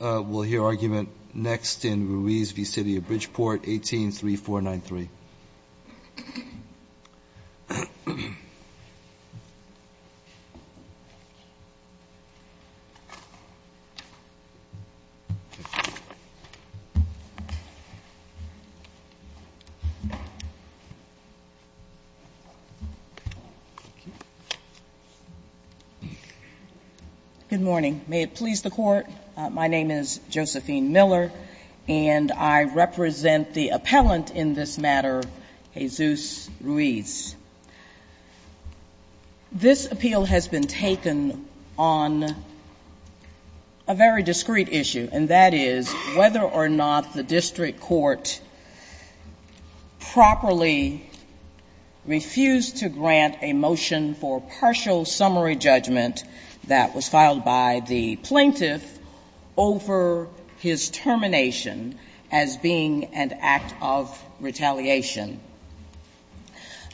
We'll hear argument next in Ruiz v. City of Bridgeport, 183493. Good morning. May it please the Court, my name is Josephine Miller, and I represent the appellant in this matter, Jesus Ruiz. This appeal has been taken on a very discreet issue, and that is whether or not the district court properly refused to grant a motion for partial summary judgment that was filed by the plaintiff over his termination as being an act of retaliation.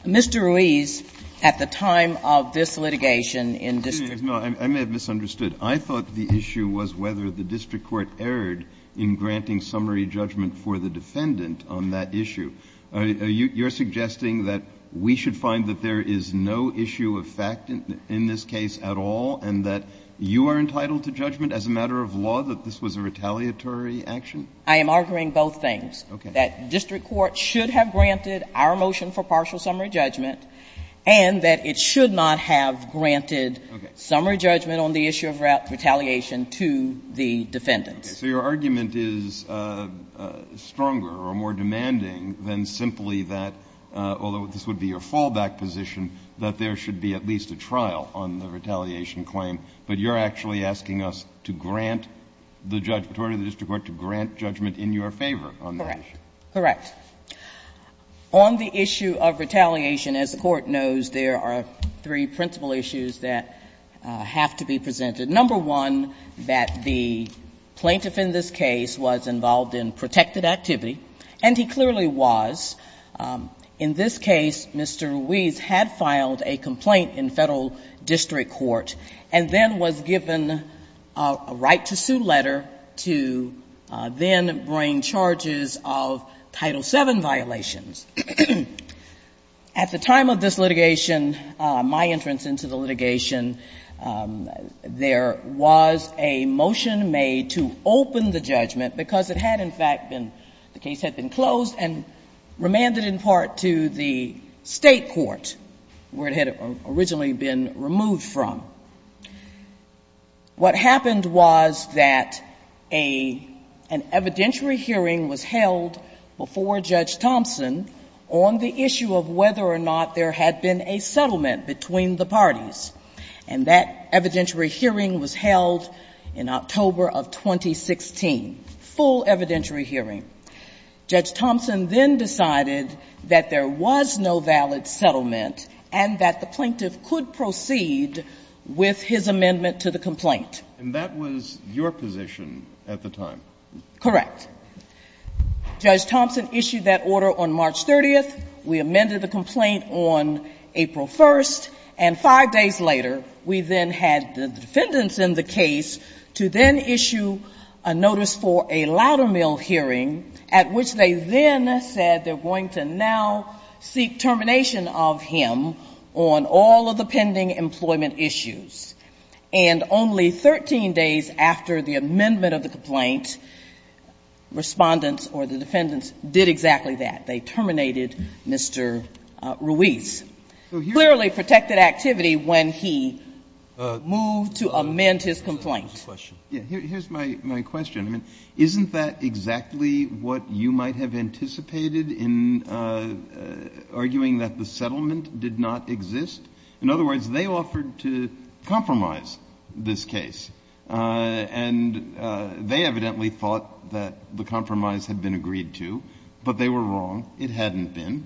Mr. Ruiz, at the time of this litigation in district court ---- Breyer, no, I may have misunderstood. I thought the issue was whether the district court erred in granting summary judgment for the defendant on that issue. You're suggesting that we should find that there is no issue of fact in this case at all, and that you are entitled to judgment as a matter of law that this was a retaliatory action? I am arguing both things, that district court should have granted our motion for partial summary judgment, and that it should not have granted summary judgment on the issue of retaliation to the defendants. Okay. So your argument is stronger or more demanding than simply that, although this would be a fallback position, that there should be at least a trial on the retaliation claim, but you're actually asking us to grant the judge, the authority of the district court, to grant judgment in your favor on that issue? Correct. On the issue of retaliation, as the Court knows, there are three principal issues that have to be presented. Number one, that the plaintiff in this case was involved in protected activity, and he clearly was. In this case, Mr. Ruiz had filed a complaint in Federal district court, and then was given a right-to-sue letter to then bring charges of Title VII violations. At the time of this litigation, my entrance into the litigation, there was a motion made to open the judgment, because it had, in fact, been — the case had been closed and remanded in part to the State court, where it had originally been removed from. What happened was that a — an evidentiary hearing was held before Judge Thompson on the issue of whether or not there had been a settlement between the parties. And that evidentiary hearing was held in October of 2016, full evidentiary hearing. Judge Thompson then decided that there was no valid settlement and that the plaintiff could proceed with his amendment to the complaint. And that was your position at the time? Correct. Judge Thompson issued that order on March 30th. We amended the complaint on April 1st, and five days later, we then had the defendants in the case to then issue a notice for a louder-mill hearing, at which they then said they're going to now seek termination of him on all of the pending employment issues. And only 13 days after the amendment of the complaint, Respondents or the defendants did exactly that. They terminated Mr. Ruiz. Clearly protected activity when he moved to amend his complaint. Here's my question. Isn't that exactly what you might have anticipated in arguing that the settlement did not exist? In other words, they offered to compromise this case. And they evidently thought that the compromise had been agreed to, but they were wrong. It hadn't been.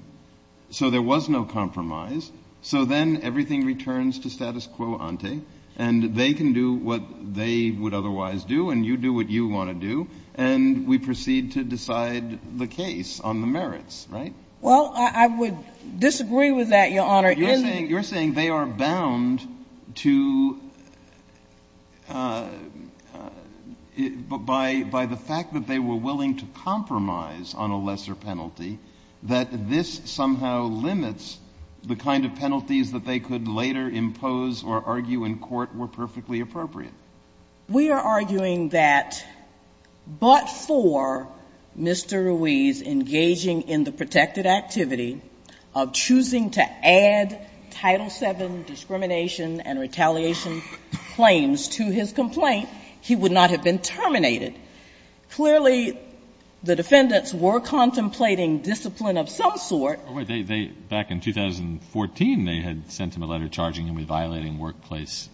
So there was no compromise. So then everything returns to status quo ante, and they can do what they would otherwise do, and you do what you want to do, and we proceed to decide the case on the merits, right? Well, I would disagree with that, Your Honor. You're saying they are bound to, by the fact that they were willing to compromise on a lesser penalty, that this somehow limits the kind of penalties that they could later impose or argue in court were perfectly appropriate. We are arguing that but for Mr. Ruiz engaging in the protected activity of choosing to add Title VII discrimination and retaliation claims to his complaint, he would not have been terminated. Clearly, the defendants were contemplating discipline of some sort. But they, back in 2014, they had sent him a letter charging him with violating workplace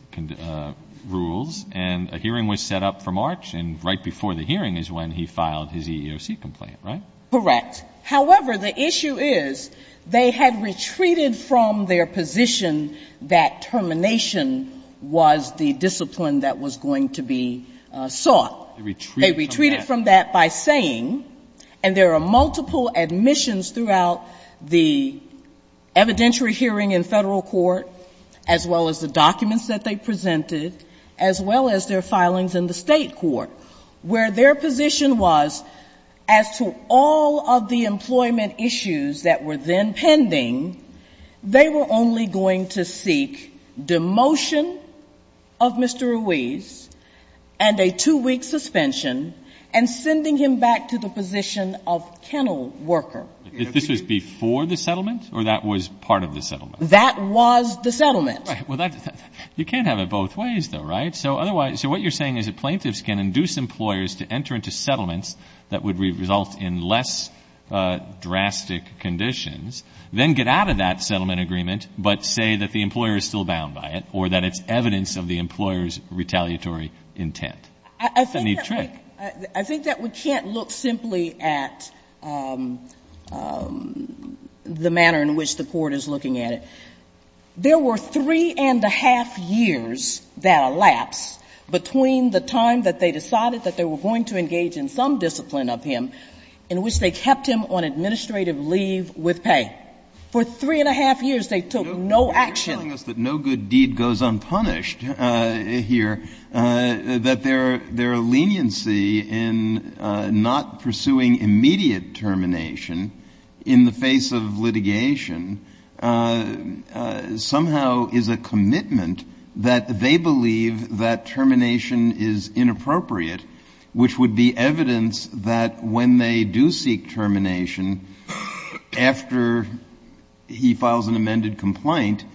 rules, and a hearing was set up for March, and right before the hearing is when he filed his EEOC complaint, right? Correct. However, the issue is they had retreated from their position that termination was the discipline that was going to be sought. They retreated from that. They retreated from that by saying, and there are multiple admissions throughout the evidentiary hearing in federal court, as well as the documents that they presented, as well as their filings in the state court, where their position was as to all of the employment issues that were then pending, they were only going to seek demotion of Mr. Ruiz, and they were going to seek a suspension, and sending him back to the position of kennel worker. This was before the settlement, or that was part of the settlement? That was the settlement. Well, you can't have it both ways, though, right? So otherwise, so what you're saying is that plaintiffs can induce employers to enter into settlements that would result in less drastic conditions, then get out of that settlement agreement, but say that the employer is still bound by it, or that it's evidence of the employer's retaliatory intent. That's a neat trick. I think that we can't look simply at the manner in which the Court is looking at it. There were three-and-a-half years that elapsed between the time that they decided that they were going to engage in some discipline of him in which they kept him on administrative leave with pay. For three-and-a-half years, they took no action. But you're telling us that no good deed goes unpunished here, that their leniency in not pursuing immediate termination in the face of litigation somehow is a commitment that they believe that termination is inappropriate, which would be evidence that when they do seek termination, after he files an amended complaint,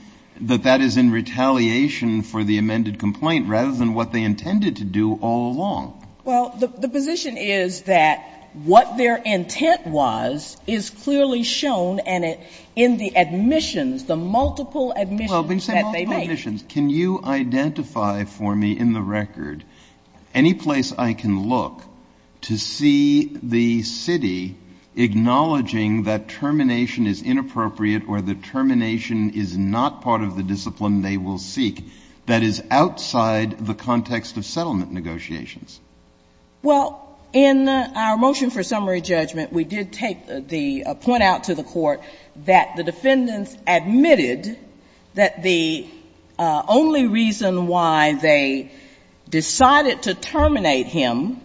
that that is in retaliation for the amended complaint rather than what they intended to do all along? Well, the position is that what their intent was is clearly shown in the admissions, the multiple admissions that they make. Well, when you say multiple admissions, can you identify for me in the record any place I can look to see the city acknowledging that termination is inappropriate or that termination is not part of the discipline they will seek that is outside the context of settlement negotiations? Well, in our motion for summary judgment, we did take the point out to the Court that the defendants admitted that the only reason why they decided to terminate him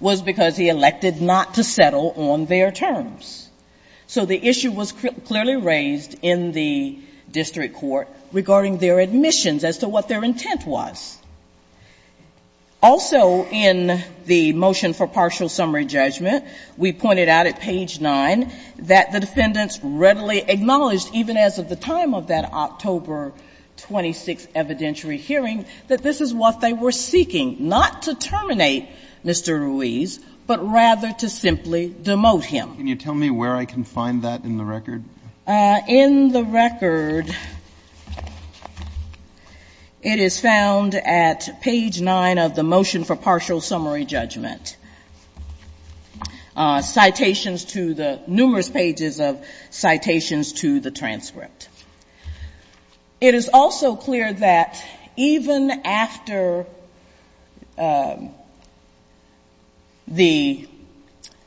was because he elected not to settle on their terms. So the issue was clearly raised in the district court regarding their admissions as to what their intent was. Also in the motion for partial summary judgment, we pointed out at page 9 that the defendants readily acknowledged, even as of the time of that October 26th evidentiary hearing, that this is what they were seeking, not to terminate Mr. Ruiz, but rather to simply demote him. Can you tell me where I can find that in the record? In the record, it is found at page 9 of the motion for partial summary judgment. It is also clear that even after the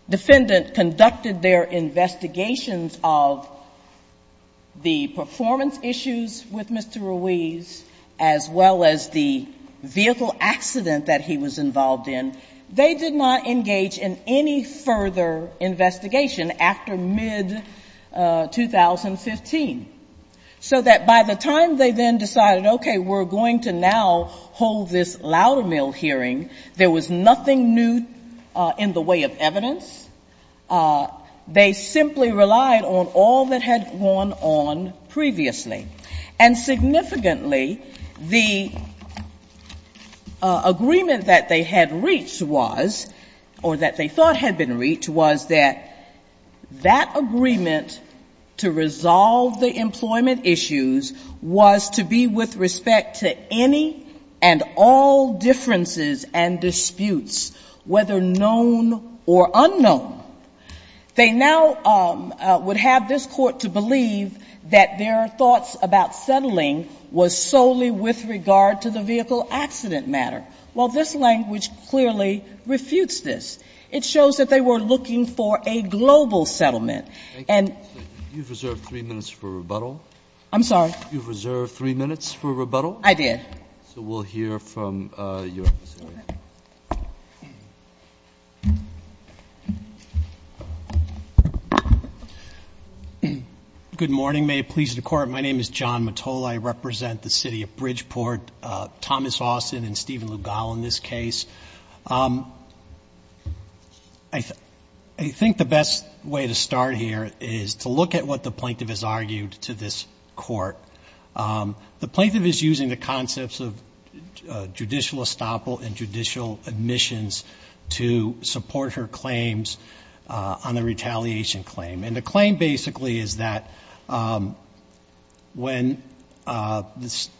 defendant conducted their investigations of the performance issues with Mr. Ruiz, as well as the vehicle accident that he was not engaged in any further investigation after mid-2015, so that by the time they then decided, okay, we're going to now hold this Loudermill hearing, there was nothing new in the way of evidence. They simply relied on all that had gone on previously. And significantly, the agreement that they had reached was, or that they thought had been reached, was that that agreement to resolve the employment issues was to be with respect to any and all differences and disputes, whether known or unknown. They now would have this Court to believe that their thoughts about settling was solely with regard to the vehicle accident matter. Well, this language clearly refutes this. It shows that they were looking for a global settlement. And you've reserved three minutes for rebuttal. I'm sorry? You've reserved three minutes for rebuttal? I did. So we'll hear from your office. Go ahead. Good morning. May it please the Court, my name is John Mottola. I represent the city of Bridgeport, Thomas Austin and Stephen Lugow in this case. I think the best way to start here is to look at what the plaintiff has argued to this Court. The plaintiff is using the concepts of judicial estoppel and judicial admissions to support her claims on the retaliation claim. And the claim basically is that when, that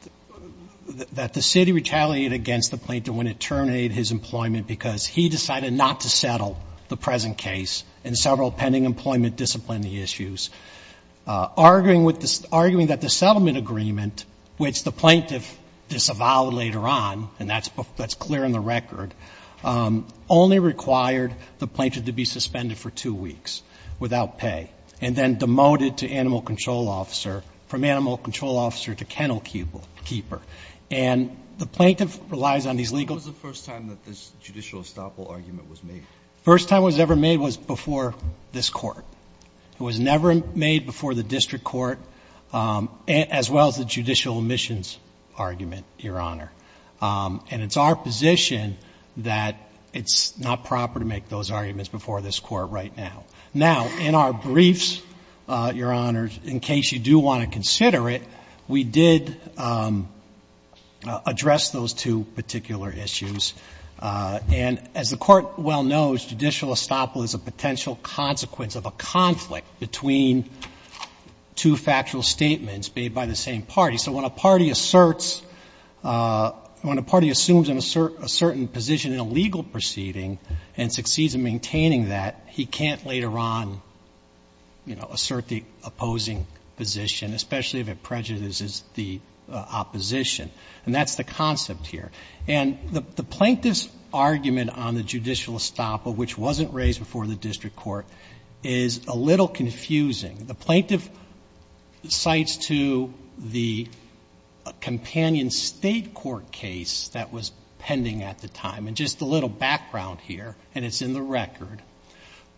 the city retaliated against the plaintiff when it terminated his employment because he decided not to settle the present case, and several pending employment disciplinary issues, arguing that the settlement agreement, which the plaintiff disavowed later on, and that's clear in the record, only required the plaintiff to be suspended for two weeks without pay, and then demoted to animal control officer, from animal control officer to kennel keeper. And the plaintiff relies on these legal... When was the first time that this judicial estoppel argument was made? First time it was ever made was before this Court. It was never made before the district court, as well as the judicial admissions argument, Your Honor. And it's our position that it's not proper to make those arguments before this Court right now. Now, in our briefs, Your Honor, in case you do want to consider it, we did address those two particular issues. And as the Court well knows, judicial estoppel is a potential consequence of a conflict between two factual statements made by the same party. So when a party asserts, when a party assumes a certain position in a legal proceeding and succeeds in maintaining that, he can't later on, you know, assert the opposing position, especially if it prejudices the opposition. And that's the concept here. And the plaintiff's argument on the judicial estoppel, which wasn't raised before the district court, is a little confusing. The plaintiff cites to the companion state court case that was pending at the time. And just a little background here, and it's in the record,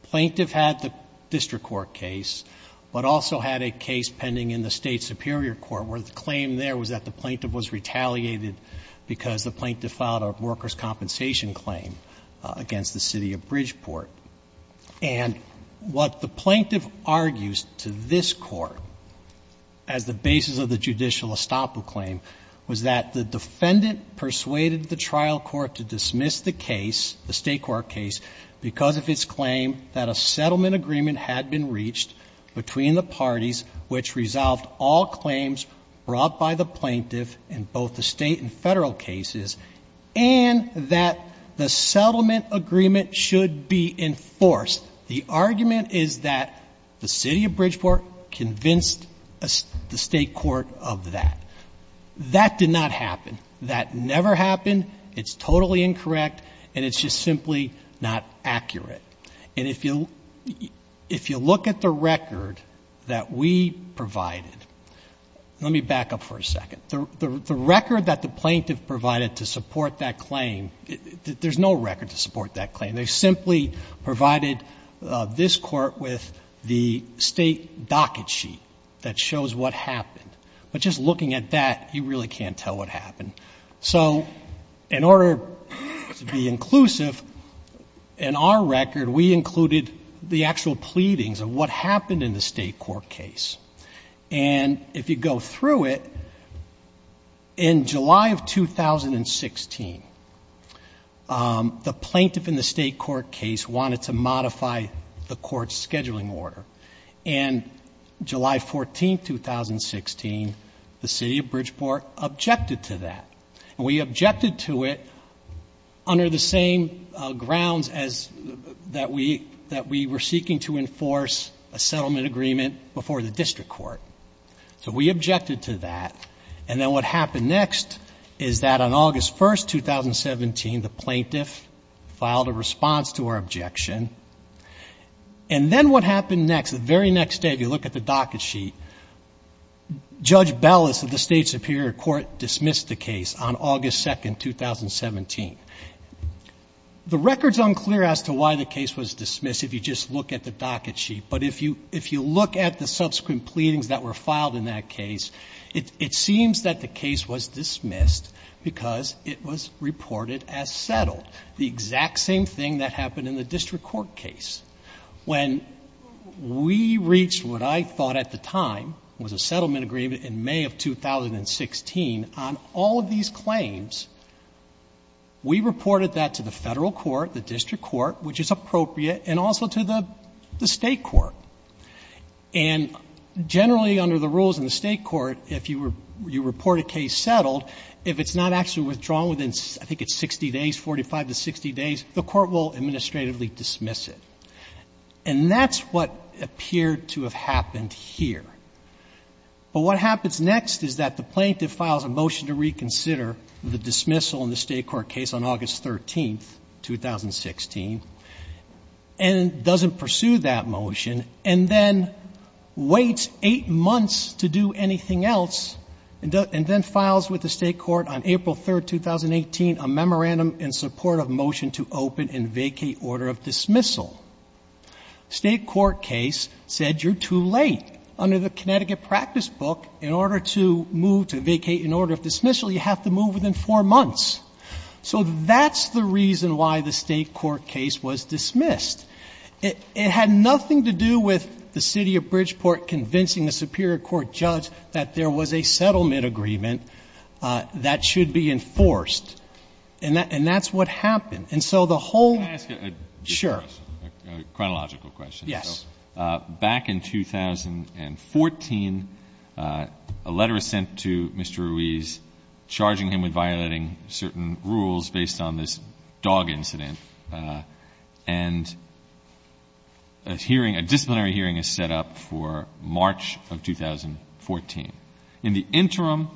plaintiff had the district court case, but also had a case pending in the state superior court where the claim there was that the plaintiff was retaliated because the plaintiff filed a workers' compensation claim against the city of Bridgeport. And what the plaintiff argues to this Court as the basis of the judicial estoppel claim was that the defendant persuaded the trial court to dismiss the case, the state court case, because of its claim that a settlement agreement had been reached between the parties which resolved all claims brought by the plaintiff in both the state and Federal cases, and that the settlement agreement should be enforced. The argument is that the city of Bridgeport convinced the state court of that. That did not happen. That never happened. It's totally incorrect, and it's just simply not accurate. And if you look at the record that we provided, let me back up for a second. The record that the plaintiff provided to support that claim, there's no record to support that claim. They simply provided this Court with the state docket sheet that shows what happened. But just looking at that, you really can't tell what happened. So in order to be inclusive, in our record, we included the actual pleadings of what happened in the state court case. And if you go through it, in July of 2016, the plaintiff in the state court case wanted to modify the Court's scheduling order. And July 14, 2016, the city of Bridgeport objected to that. And we objected to it under the same grounds that we were seeking to enforce a settlement agreement before the district court. So we objected to that. And then what happened next is that on August 1, 2017, the plaintiff filed a response to our objection. And then what happened next, the very next day, if you look at the docket sheet, Judge Bellis of the state superior court dismissed the case on August 2, 2017. The record is unclear as to why the case was dismissed if you just look at the docket sheet. But if you look at the subsequent pleadings that were filed in that case, it seems same thing that happened in the district court case. When we reached what I thought at the time was a settlement agreement in May of 2016 on all of these claims, we reported that to the Federal court, the district court, which is appropriate, and also to the state court. And generally under the rules in the state court, if you report a case settled, if it's not actually withdrawn within, I think it's 60 days, 45 to 60 days, the court will administratively dismiss it. And that's what appeared to have happened here. But what happens next is that the plaintiff files a motion to reconsider the dismissal in the state court case on August 13, 2016, and doesn't pursue that motion, and then waits eight months to do anything else, and then files with the state court on April 3, 2018, a memorandum in support of motion to open and vacate order of dismissal. State court case said you're too late. Under the Connecticut practice book, in order to move to vacate an order of dismissal, you have to move within four months. So that's the reason why the state court case was dismissed. It had nothing to do with the city of Bridgeport convincing the superior court judge that there was a settlement agreement that should be enforced. And that's what happened. And so the whole — Can I ask a question? Sure. A chronological question. Yes. Back in 2014, a letter was sent to Mr. Ruiz charging him with violating certain rules based on this dog incident. And a hearing, a disciplinary hearing is set up for March of 2014. In the interim,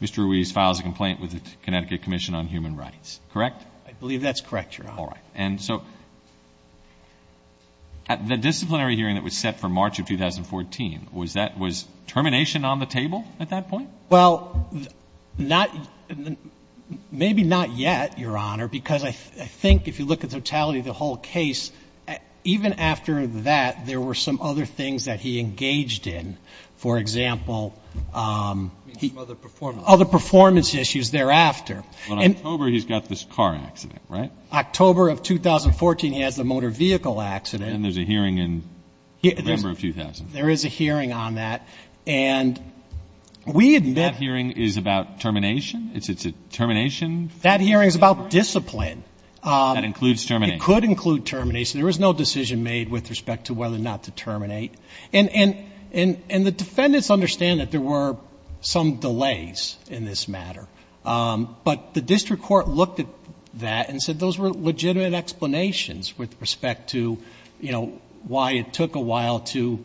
Mr. Ruiz files a complaint with the Connecticut Commission on Human Rights, correct? I believe that's correct, Your Honor. All right. And so the disciplinary hearing that was set for March of 2014, was that — was termination on the table at that point? Well, not — maybe not yet, Your Honor, because I think if you look at totality of the whole case, even after that, there were some other things that he engaged in. For example — Some other performance issues. Other performance issues thereafter. In October, he's got this car accident, right? October of 2014, he has the motor vehicle accident. And there's a hearing in November of 2014. There is a hearing on that. And we admit — That hearing is about termination? It's a termination? That hearing is about discipline. That includes termination. It could include termination. There was no decision made with respect to whether or not to terminate. And the defendants understand that there were some delays in this matter. But the district court looked at that and said those were legitimate explanations with respect to, you know, why it took a while to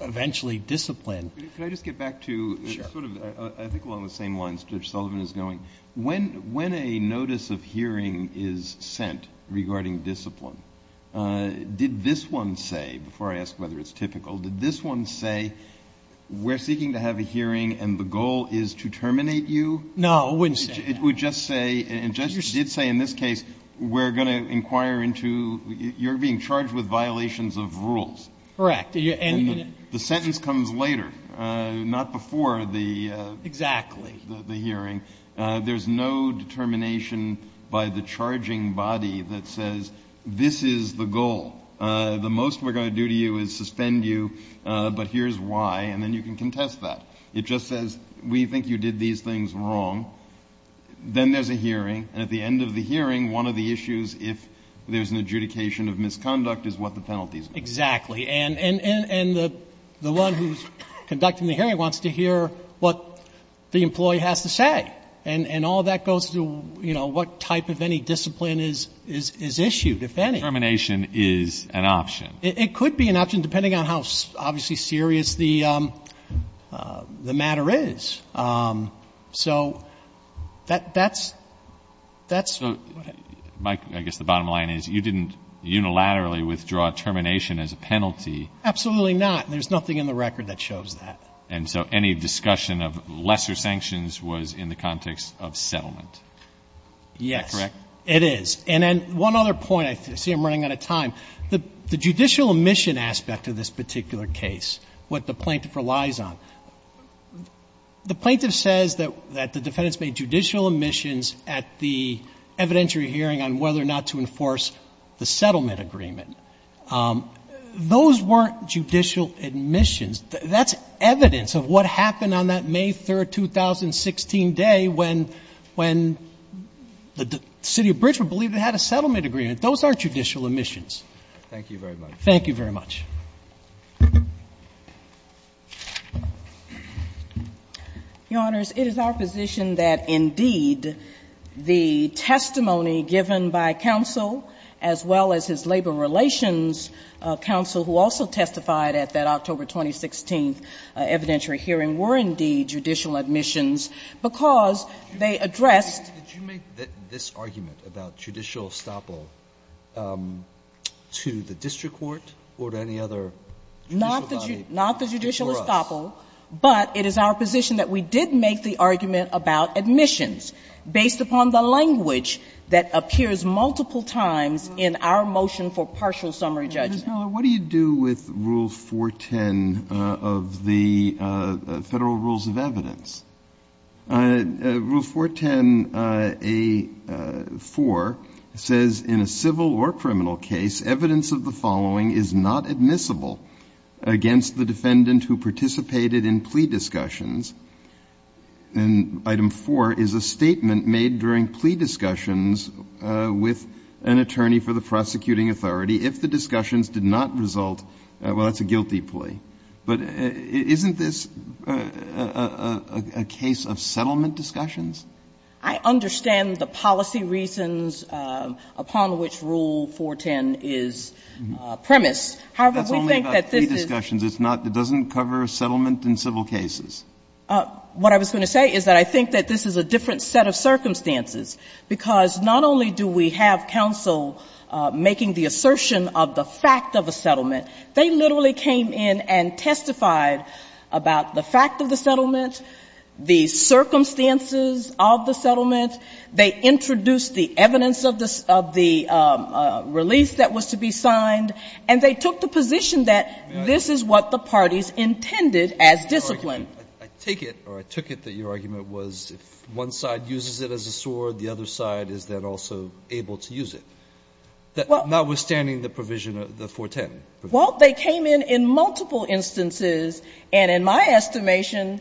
eventually discipline. Could I just get back to sort of — Sure. I think along the same lines Judge Sullivan is going. When a notice of hearing is sent regarding discipline, did this one say — before I ask whether it's typical — did this one say, we're seeking to have a hearing and the goal is to terminate you? No, it wouldn't say that. It would just say — and Judge did say in this case we're going to inquire into — you're being charged with violations of rules. Correct. And — The sentence comes later, not before the — Exactly. — the hearing. There's no determination by the charging body that says this is the goal. The most we're going to do to you is suspend you, but here's why. And then you can contest that. It just says we think you did these things wrong. Then there's a hearing. And at the end of the hearing, one of the issues, if there's an adjudication of misconduct, is what the penalties are. Exactly. And the one who's conducting the hearing wants to hear what the employee has to say. And all that goes to, you know, what type of any discipline is issued, if any. Determination is an option. It could be an option, depending on how, obviously, serious the matter is. So that's — So, Mike, I guess the bottom line is you didn't unilaterally withdraw termination as a penalty. Absolutely not. There's nothing in the record that shows that. And so any discussion of lesser sanctions was in the context of settlement. Yes. Is that correct? It is. And then one other point. I see I'm running out of time. The judicial omission aspect of this particular case, what the plaintiff relies on, the plaintiff says that the defendants made judicial omissions at the evidentiary hearing on whether or not to enforce the settlement agreement. Those weren't judicial omissions. That's evidence of what happened on that May 3, 2016 day, when the city of Bridgewood believed they had a settlement agreement. Those aren't judicial omissions. Thank you very much. Thank you very much. Your Honors, it is our position that, indeed, the testimony given by counsel, as well as his labor relations counsel, who also testified at that October 2016 evidentiary hearing, were, indeed, judicial omissions, because they addressed. Did you make this argument about judicial estoppel to the district court or to any other judicial body? Not the judicial estoppel, but it is our position that we did make the argument about omissions based upon the language that appears multiple times in our motion for partial summary judgment. Now, what do you do with Rule 410 of the Federal Rules of Evidence? Rule 410a4 says, In a civil or criminal case, evidence of the following is not admissible against the defendant who participated in plea discussions. And item 4 is a statement made during plea discussions with an attorney for the defendant who did not result. Well, that's a guilty plea. But isn't this a case of settlement discussions? I understand the policy reasons upon which Rule 410 is premised. However, we think that this is. That's only about plea discussions. It's not the doesn't cover settlement in civil cases. What I was going to say is that I think that this is a different set of circumstances, because not only do we have counsel making the assertion of the fact of a settlement, they literally came in and testified about the fact of the settlement, the circumstances of the settlement, they introduced the evidence of the release that was to be signed, and they took the position that this is what the parties intended as discipline. I take it, or I took it, that your argument was if one side uses it as a sword, the other side is then also able to use it, notwithstanding the provision of the 410. Well, they came in in multiple instances, and in my estimation,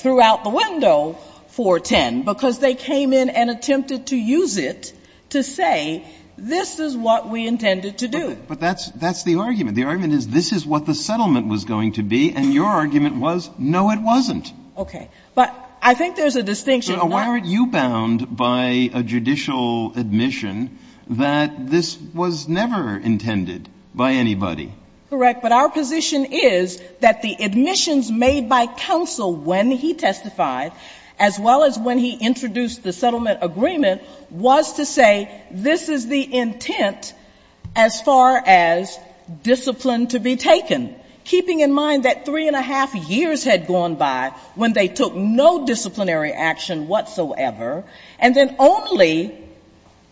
throughout the window, 410, because they came in and attempted to use it to say this is what we intended to do. But that's the argument. The argument is this is what the settlement was going to be, and your argument was no, it wasn't. Okay. But I think there's a distinction. Why aren't you bound by a judicial admission that this was never intended by anybody? Correct. But our position is that the admissions made by counsel when he testified, as well as when he introduced the settlement agreement, was to say this is the intent as far as discipline to be taken. Keeping in mind that three and a half years had gone by when they took no disciplinary action whatsoever, and then only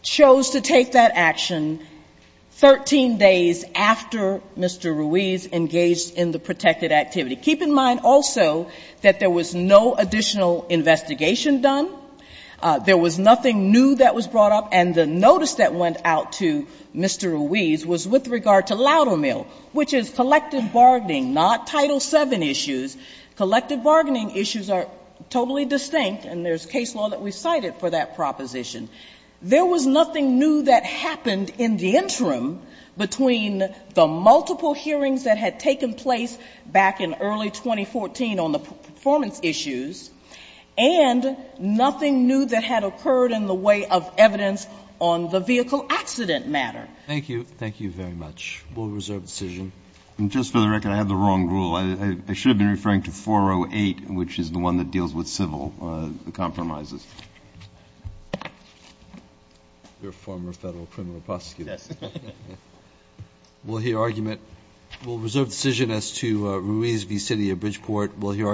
chose to take that action 13 days after Mr. Ruiz engaged in the protected activity. Keep in mind also that there was no additional investigation done. There was nothing new that was brought up, and the notice that went out to Mr. Ruiz was with regard to Loudermill, which is collective bargaining, not Title VII issues. Collective bargaining issues are totally distinct, and there's case law that we cited for that proposition. There was nothing new that happened in the interim between the multiple hearings that had taken place back in early 2014 on the performance issues and nothing new that had occurred in the way of evidence on the vehicle accident matter. Thank you. Thank you very much. We'll reserve decision. Just for the record, I have the wrong rule. I should have been referring to 408, which is the one that deals with civil compromises. You're a former federal criminal prosecutor. Yes. We'll hear argument. We'll reserve decision as to Ruiz v. City of Bridgeport. We'll hear argument.